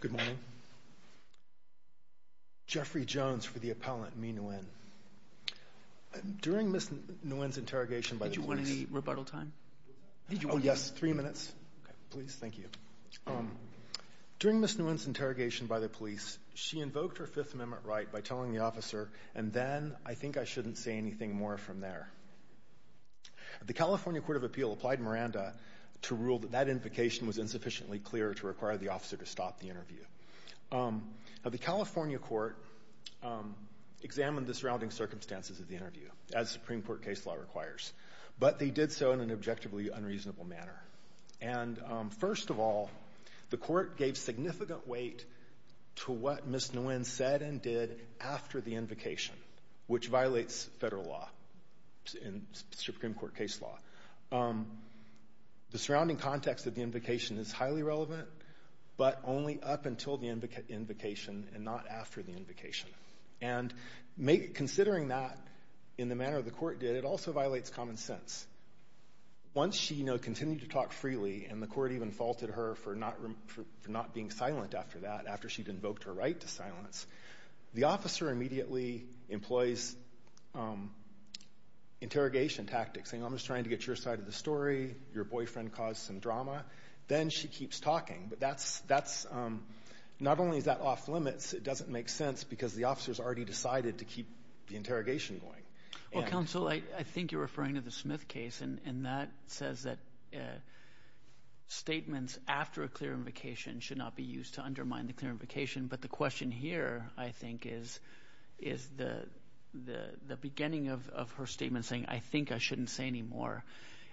Good morning. Jeffrey Jones for the appellant, me Nguyen. During Ms. Nguyen's interrogation by the police... Did you want any rebuttal time? Oh yes, three minutes. Please, thank you. During Ms. Nguyen's interrogation by the police, she invoked her Fifth Amendment right by telling the officer, and then, I think I shouldn't say anything more from there. The California Court of Appeal applied Miranda to rule that that invocation was insufficiently clear to require the officer to stop the interview. The California Court examined the surrounding circumstances of the interview, as Supreme Court case law requires, but they did so in an objectively unreasonable manner. And first of all, the court gave significant weight to what Ms. Nguyen said and did after the invocation, which violates federal law and Supreme Court case law. The surrounding context of the invocation is highly relevant, but only up until the invocation and not after the invocation. And considering that in the manner the court did, it also violates common sense. Once she, you know, continued to talk freely, and the court even faulted her for not being silent after that, after she'd immediately employs interrogation tactics, saying, I'm just trying to get your side of the story, your boyfriend caused some drama, then she keeps talking. But that's, that's, not only is that off-limits, it doesn't make sense because the officer's already decided to keep the interrogation going. Well, counsel, I think you're referring to the Smith case, and that says that statements after a clear invocation should not be used to undermine the clear invocation. But the question here, I think, is, is the, the beginning of her statement saying, I think I shouldn't say anymore.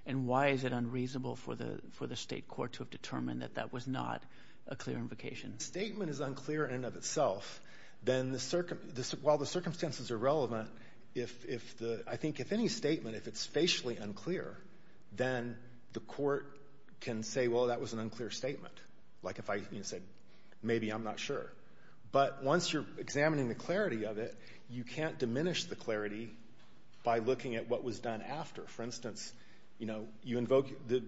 And why is it unreasonable for the, for the state court to have determined that that was not a clear invocation? If the statement is unclear in and of itself, then the, while the circumstances are relevant, if, if the, I think if any statement, if it's facially unclear, then the court can say, well, that was an unclear statement. Like if I, you know, said, maybe I'm not sure. But once you're examining the clarity of it, you can't diminish the clarity by looking at what was done after. For instance, you know, you invoke, the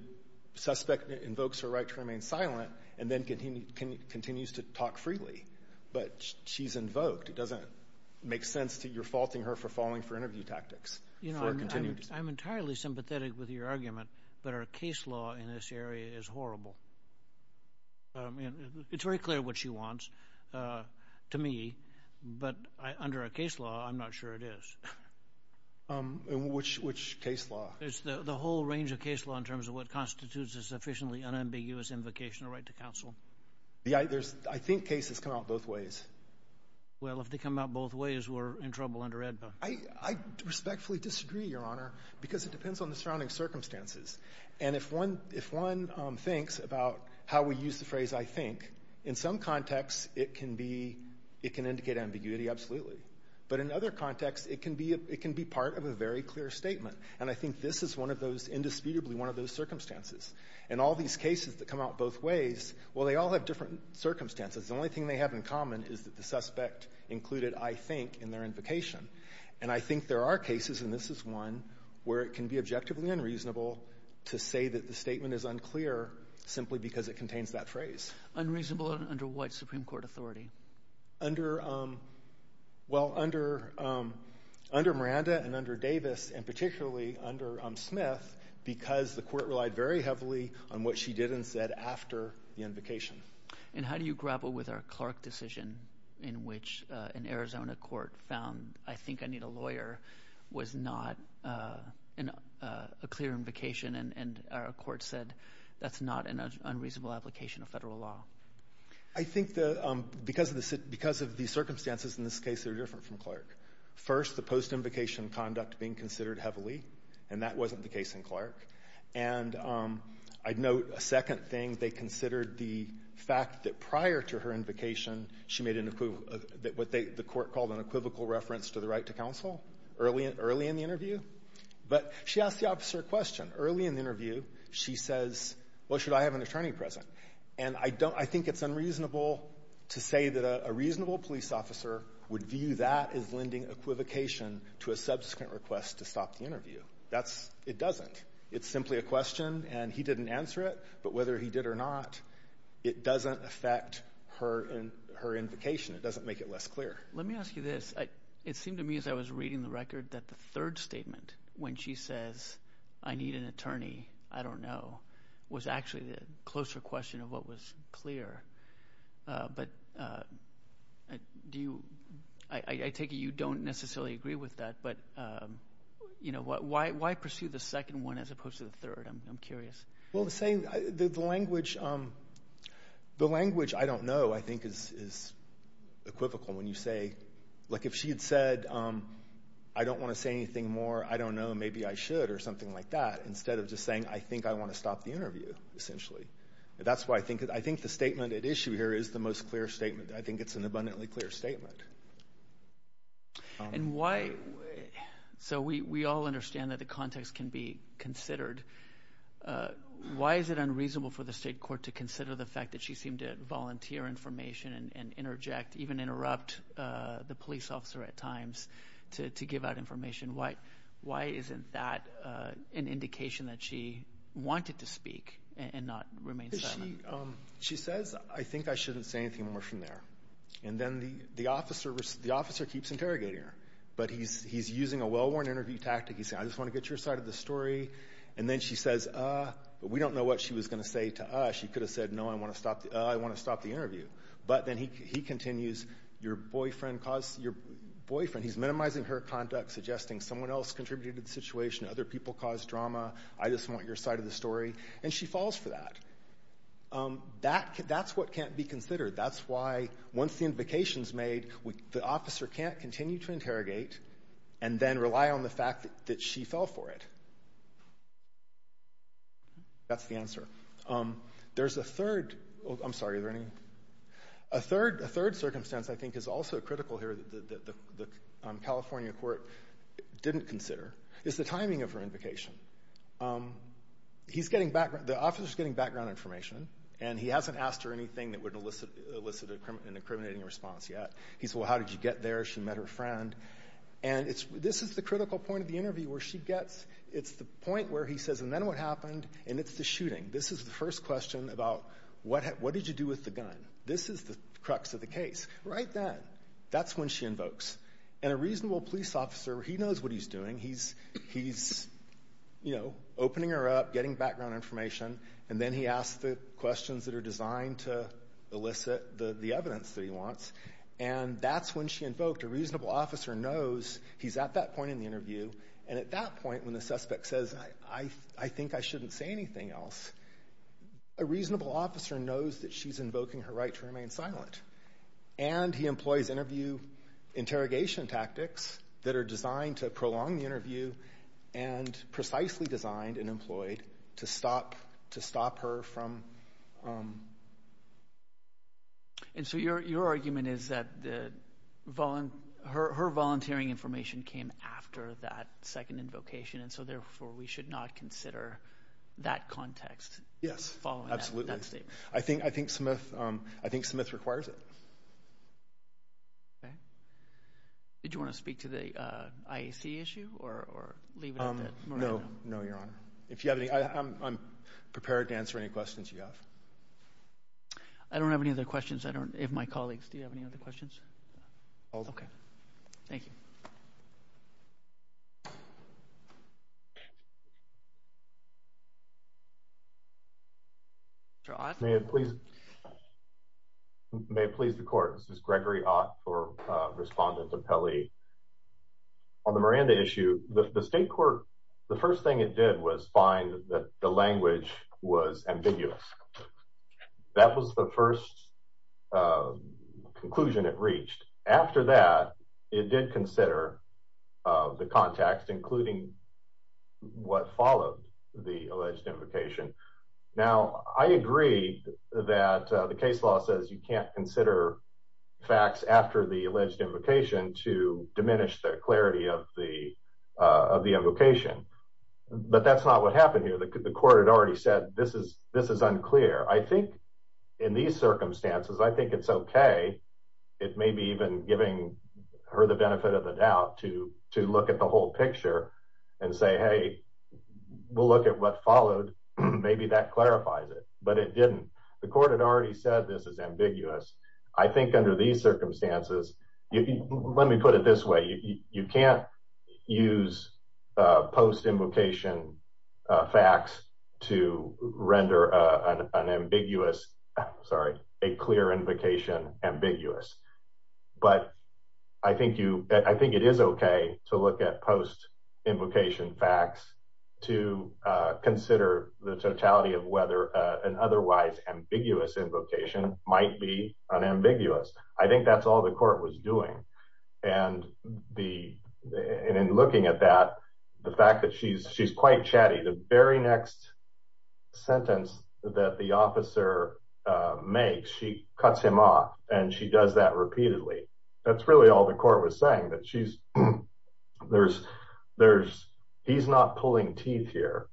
suspect invokes her right to remain silent, and then continue, continues to talk freely. But she's invoked. It doesn't make sense that you're faulting her for falling for interview tactics. You know, I'm, I'm entirely sympathetic with your argument, but our case law in this area is horrible. I mean, it's very clear what she wants to me. But I, under our case law, I'm not sure it is. Which, which case law? It's the, the whole range of case law in terms of what constitutes a sufficiently unambiguous invocation of right to counsel. Yeah, there's, I think cases come out both ways. Well, if they come out both ways, we're in trouble under AEDPA. I, I respectfully disagree, Your Honor, because it depends on the surrounding circumstances. And if one, if one thinks about how we use the phrase, I think, in some contexts, it can be, it can indicate ambiguity, absolutely. But in other contexts, it can be a, it can be part of a very clear statement. And I think this is one of those, indisputably one of those circumstances. And all these cases that come out both ways, well, they all have different circumstances. The only thing they have in common is that the suspect included, I think, in their invocation. And I think there are cases, and this is one, where it can be objectively unreasonable to say that the statement is unclear simply because it contains that phrase. Unreasonable under what Supreme Court authority? Under, well, under, under Miranda and under Davis, and particularly under Smith, because the court relied very heavily on what she did and said after the invocation. And how do you grapple with our Clark decision, in which an Arizona court found, I think I need a lawyer, was not a clear invocation, and our court said, that's not an unreasonable application of Federal law? I think the, because of the circumstances in this case are different from Clark. First, the post-invocation conduct being considered heavily, and that wasn't the case in Clark. And I'd note a second thing. They considered the fact that prior to her invocation, she made an equiv, what they, the court called an equivocal reference to the right to counsel early in the interview. But she asked the officer a question. Early in the interview, she says, well, should I have an attorney present? And I don't, I think it's unreasonable to say that a reasonable police officer would view that as lending equivocation to a subsequent request to stop the interview. That's, it doesn't. It's simply a question, and he didn't answer it. But whether he did or not, it doesn't affect her, her invocation. It doesn't make it less clear. Let me ask you this. It seemed to me as I was reading the record that the third statement, when she says, I need an attorney, I don't know, was actually the closer question of what was clear. But do you, I take it you don't necessarily agree with that, but, you know, why pursue the second one as opposed to the third? I'm curious. Well, the same, the language, the language I don't know, I think, is equivocal when you say, like if she had said, I don't want to say anything more, I don't know, maybe I should, or something like that, instead of just saying, I think I want to stop the interview, essentially. That's why I think, I think the statement at issue here is the most clear statement. I think it's an abundantly clear statement. And why, so we all understand that the context can be considered. Why is it unreasonable for the state court to consider the fact that she seemed to volunteer information and interject, even interrupt the police officer at times to give out information? Why isn't that an indication that she wanted to speak and not remain silent? She says, I think I shouldn't say anything more from there. And then the officer, the officer keeps interrogating her. But he's using a well-worn interview tactic, he's saying, I just want to get your side of the story. And then she says, we don't know what she was going to say to us. She could have said, no, I want to stop, I want to stop the interview. But then he continues, your boyfriend caused, your boyfriend, he's minimizing her conduct, suggesting someone else contributed to the situation, other people caused drama. I just want your side of the story. And she falls for that. That's what can't be considered. That's why once the invocation's made, the officer can't continue to interrogate and then rely on the fact that she fell for it. That's the answer. There's a third, I'm sorry, is there any, a third, a third circumstance I think is also important that the California court didn't consider is the timing of her invocation. He's getting background, the officer's getting background information, and he hasn't asked her anything that would elicit an incriminating response yet. He said, well, how did you get there? She met her friend. And it's, this is the critical point of the interview where she gets, it's the point where he says, and then what happened? And it's the shooting. This is the first question about what did you do with the gun? This is the crux of the case. Right then. That's when she invokes. And a reasonable police officer, he knows what he's doing. He's, you know, opening her up, getting background information, and then he asks the questions that are designed to elicit the evidence that he wants. And that's when she invoked. A reasonable officer knows he's at that point in the interview, and at that point when the suspect says, I think I shouldn't say anything else, a reasonable officer knows that she's invoking her right to remain silent. And he employs interview interrogation tactics that are designed to prolong the interview and precisely designed and employed to stop, to stop her from. And so your, your argument is that the, her volunteering information came after that second invocation, and so therefore we should not consider that context. Yes, absolutely. Following that statement. I think, I think Smith, I think Smith requires it. Okay. Did you want to speak to the IAC issue or leave it at that? No, no, your honor. If you have any, I'm prepared to answer any questions you have. I don't have any other questions. I don't, if my colleagues, do you have any other questions? Okay. Thank you. Mr. Ott? May it please, may it please the court, this is Gregory Ott for respondent of Pelley. On the Miranda issue, the state court, the first thing it did was find that the language was ambiguous. That was the first conclusion it reached. After that, it did consider the context, including what followed the alleged invocation. Now, I agree that the case law says you can't consider facts after the alleged invocation to diminish the clarity of the, of the invocation, but that's not what happened here. The court had already said, this is, this is unclear. I think in these circumstances, I think it's okay. It may be even giving her the benefit of the doubt to, to look at the whole picture and say, Hey, we'll look at what followed. Maybe that clarifies it, but it didn't. The court had already said, this is ambiguous. I think under these circumstances, let me put it this way. You can't use a post invocation facts to render an ambiguous, sorry, a clear invocation ambiguous. But I think you, I think it is okay to look at post invocation facts to consider the totality of whether an otherwise ambiguous invocation might be an ambiguous. I think that's all the court was doing. And the, and in looking at that, the fact that she's, she's quite chatty, the very next sentence that the officer makes, she cuts him off and she does that repeatedly. That's really all the court was saying that she's, there's, there's, he's not pulling teeth here.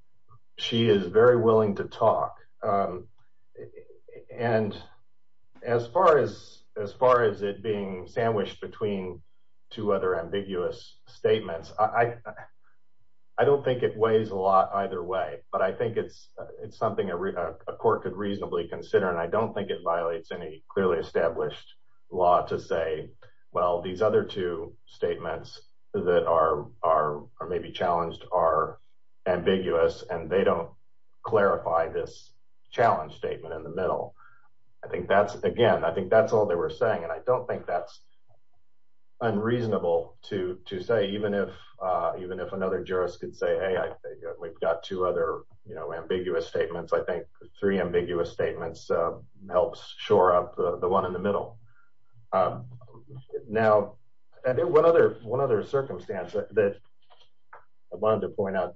She is very willing to talk. And as far as, as far as it being sandwiched between two other ambiguous statements, I, I don't think it weighs a lot either way, but I think it's, it's something a court could reasonably consider. And I don't think it violates any clearly established law to say, well, these other two statements that are, are, or maybe challenged are ambiguous and they don't clarify this challenge statement in the middle. I think that's, again, I think that's all they were saying. And I don't think that's unreasonable to, to say, even if, even if another jurist could say, Hey, I think we've got two other, you know, ambiguous statements. I think three ambiguous statements helps shore up the one in the middle. Now one other, one other circumstance that I wanted to point out,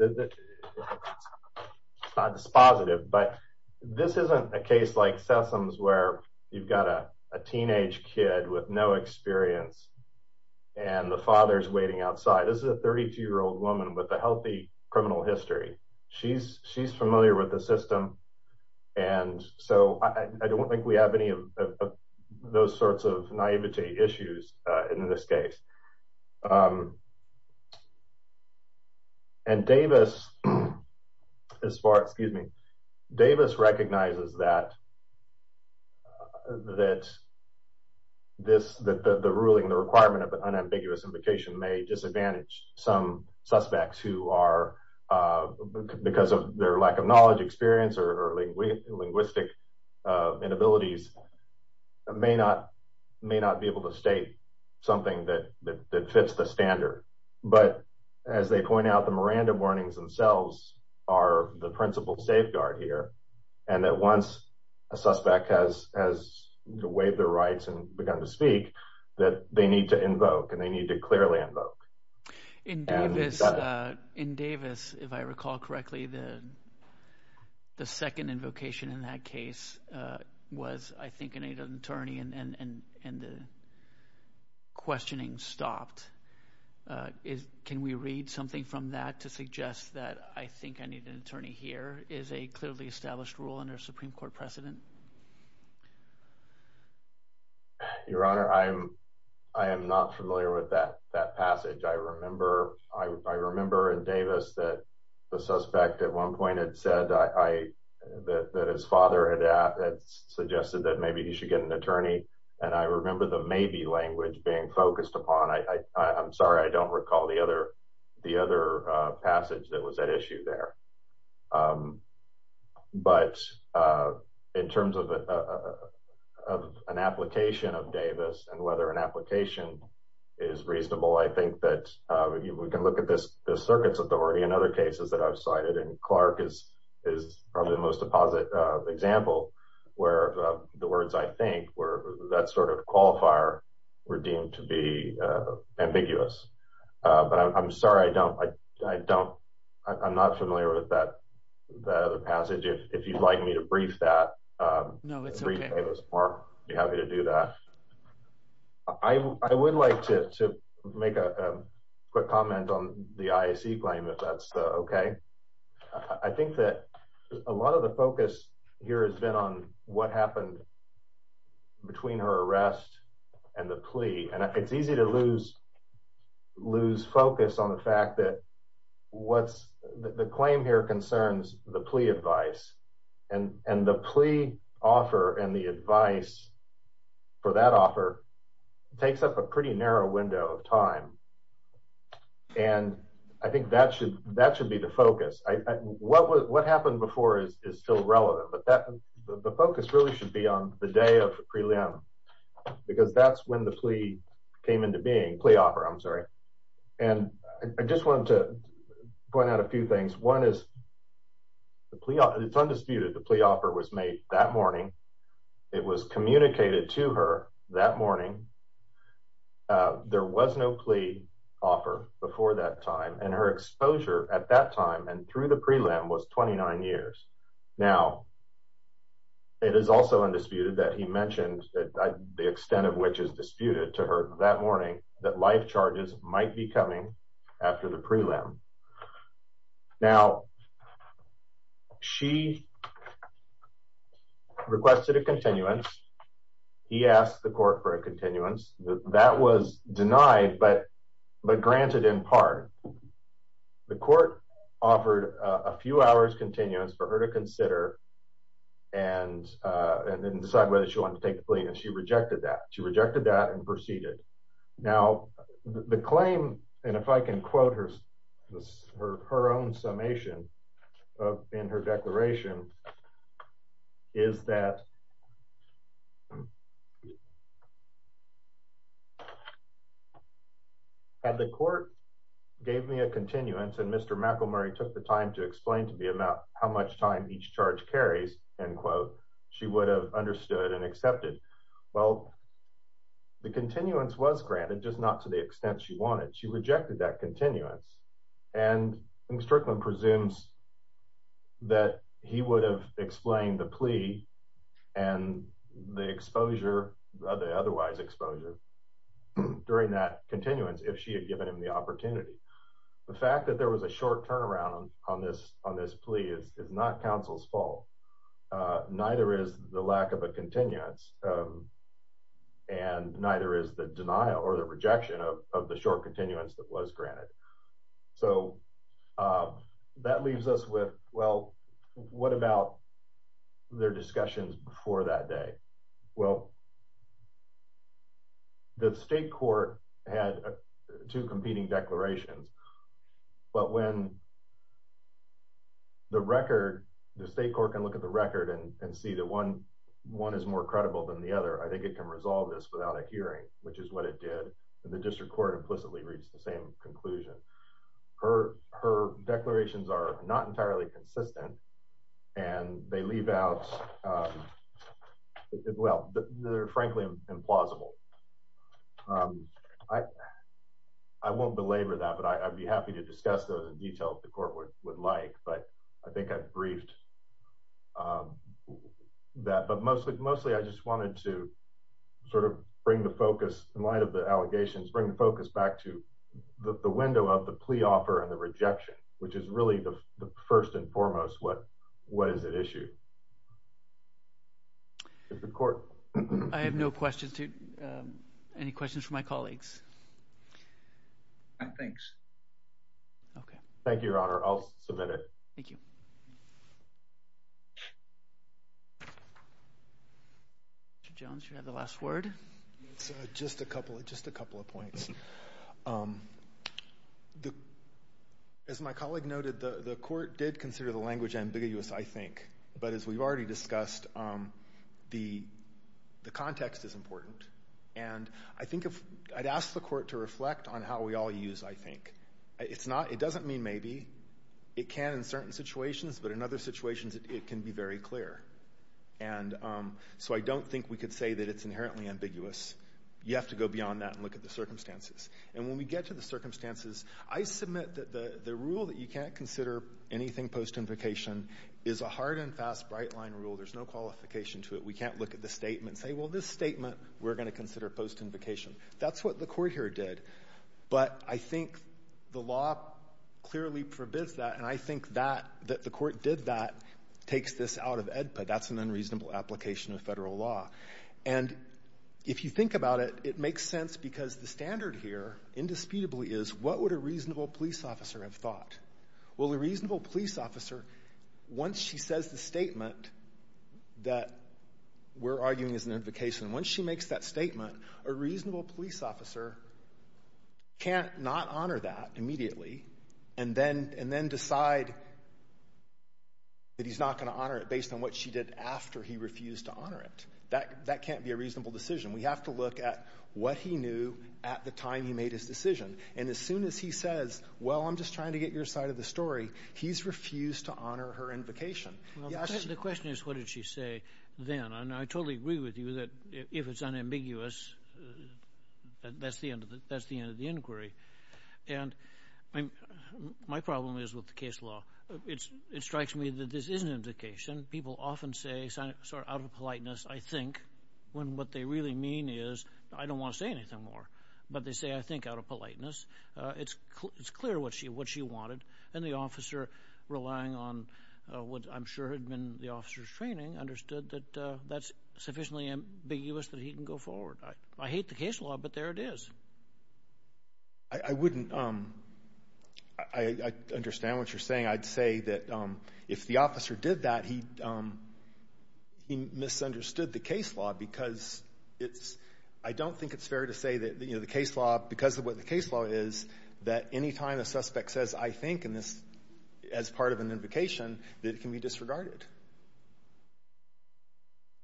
it's positive, but this isn't a case like Sessoms where you've got a teenage kid with no experience and the father's waiting outside. This is a 32 year old woman with a healthy criminal history. She's she's familiar with the system. And so I don't think we have any of those sorts of naivety issues in this case. And Davis, as far, excuse me, Davis recognizes that, that this, that the ruling, the requirement of an unambiguous implication may disadvantage some suspects who are because of their lack of knowledge, experience, or linguistic inabilities may not, may not be the standard. But as they point out, the Miranda warnings themselves are the principal safeguard here. And that once a suspect has, has waived their rights and begun to speak that they need to invoke and they need to clearly invoke. In Davis, in Davis, if I recall correctly, the, the second invocation in that case was I think I need an attorney and the questioning stopped. Can we read something from that to suggest that I think I need an attorney here is a clearly established rule under Supreme Court precedent? Your Honor, I'm, I am not familiar with that, that passage. I remember, I remember in Davis that the suspect at one point had said I, that his father had suggested that maybe he should get an attorney. And I remember the maybe language being focused upon. I, I, I'm sorry, I don't recall the other, the other passage that was at issue there. But in terms of an application of Davis and whether an application is reasonable, I think that we can look at this, the circuit's authority and other cases that I've cited and Clark is, is probably the most deposit example where the words I think were that sort of qualifier were deemed to be ambiguous. But I'm, I'm sorry, I don't, I don't, I'm not familiar with that, that other passage. If you'd like me to brief that, brief Davis more, I'd be happy to do that. I would like to make a quick comment on the IAC claim if that's okay. I think that a lot of the focus here has been on what happened between her arrest and the plea and it's easy to lose, lose focus on the fact that what's the claim here concerns the plea advice and, and the plea offer and the advice for that offer takes up a pretty narrow window of time. And I think that should, that should be the focus. What was, what happened before is still relevant, but that the focus really should be on the day of the prelim because that's when the plea came into being, plea offer, I'm sorry. And I just wanted to point out a few things. One is the plea, it's undisputed, the plea offer was made that morning. It was communicated to her that morning. There was no plea offer before that time and her exposure at that time and through the prelim was 29 years. Now it is also undisputed that he mentioned that the extent of which is disputed to her that morning that life charges might be coming after the prelim. Now she requested a continuance. He asked the court for a continuance that was denied, but, but granted in part, the court offered a few hours continuance for her to consider and, and then decide whether she wanted to take the plea. And she rejected that. She rejected that and proceeded. Now the claim, and if I can quote her, her, her own summation of in her declaration is that, had the court gave me a continuance and Mr. McElmurry took the time to explain to me about how much time each charge carries, end quote, she would have understood and accepted. Well, the continuance was granted, just not to the extent she wanted. She rejected that continuance and Mr. Eklund presumes that he would have explained the and the exposure of the otherwise exposure during that continuance if she had given him the opportunity. The fact that there was a short turnaround on this, on this plea is not counsel's fault. Neither is the lack of a continuance and neither is the denial or the rejection of the short continuance that was granted. So that leaves us with, well, what about their discussions before that day? Well, the state court had two competing declarations, but when the record, the state court can look at the record and see that one, one is more credible than the other. I think it can resolve this without a hearing, which is what it did. The district court implicitly reached the same conclusion. Her, her declarations are not entirely consistent and they leave out, well, they're frankly implausible. I won't belabor that, but I'd be happy to discuss those in detail if the court would like, but I think I've briefed that, but mostly, mostly I just wanted to sort of bring the focus in light of the allegations, bring the focus back to the window of the plea offer and the rejection, which is really the first and foremost, what, what is at issue. I have no questions to, um, any questions for my colleagues? No, thanks. Okay. Thank you, Your Honor. I'll submit it. Thank you. Mr. Jones, you have the last word. It's just a couple, just a couple of points. Um, the, as my colleague noted, the, the court did consider the language ambiguous, I think, but as we've already discussed, um, the, the context is important and I think if, I'd ask the court to reflect on how we all use, I think. It's not, it doesn't mean maybe. It can in certain situations, but in other situations, it can be very clear and, um, so I don't think we could say that it's inherently ambiguous. You have to go beyond that and look at the circumstances. And when we get to the circumstances, I submit that the, the rule that you can't consider anything post-invocation is a hard and fast bright line rule. There's no qualification to it. We can't look at the statement and say, well, this statement, we're going to consider post-invocation. That's what the court here did. But I think the law clearly forbids that and I think that, that the court did that takes this out of EDPA. That's an unreasonable application of federal law. And if you think about it, it makes sense because the standard here, indisputably is, what would a reasonable police officer have thought? Well, a reasonable police officer, once she says the statement that we're arguing is an invocation, once she makes that statement, a reasonable police officer can't not honor that immediately and then, and then decide that he's not going to honor it based on what she did after he refused to honor it. That, that can't be a reasonable decision. We have to look at what he knew at the time he made his decision. And as soon as he says, well, I'm just trying to get your side of the story, he's refused to honor her invocation. The question is, what did she say then? And I totally agree with you that if it's unambiguous, that's the end of the, that's the end. I mean, my problem is with the case law. It's, it strikes me that this is an invocation. People often say, sort of out of politeness, I think, when what they really mean is, I don't want to say anything more. But they say, I think, out of politeness. It's clear what she, what she wanted. And the officer, relying on what I'm sure had been the officer's training, understood that that's sufficiently ambiguous that he can go forward. I hate the case law, but there it is. And I wouldn't, I understand what you're saying. I'd say that if the officer did that, he misunderstood the case law because it's, I don't think it's fair to say that, you know, the case law, because of what the case law is, that any time a suspect says, I think, in this, as part of an invocation, that it can be disregarded.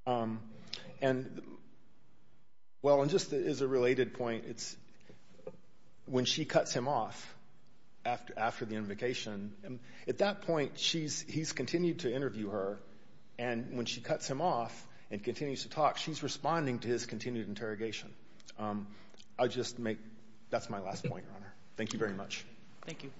And, well, and just as a related point, it's, when she cuts him off after, after the invocation, at that point, she's, he's continued to interview her. And when she cuts him off and continues to talk, she's responding to his continued interrogation. I just make, that's my last point, Your Honor. Thank you very much. Thank you. Thank you.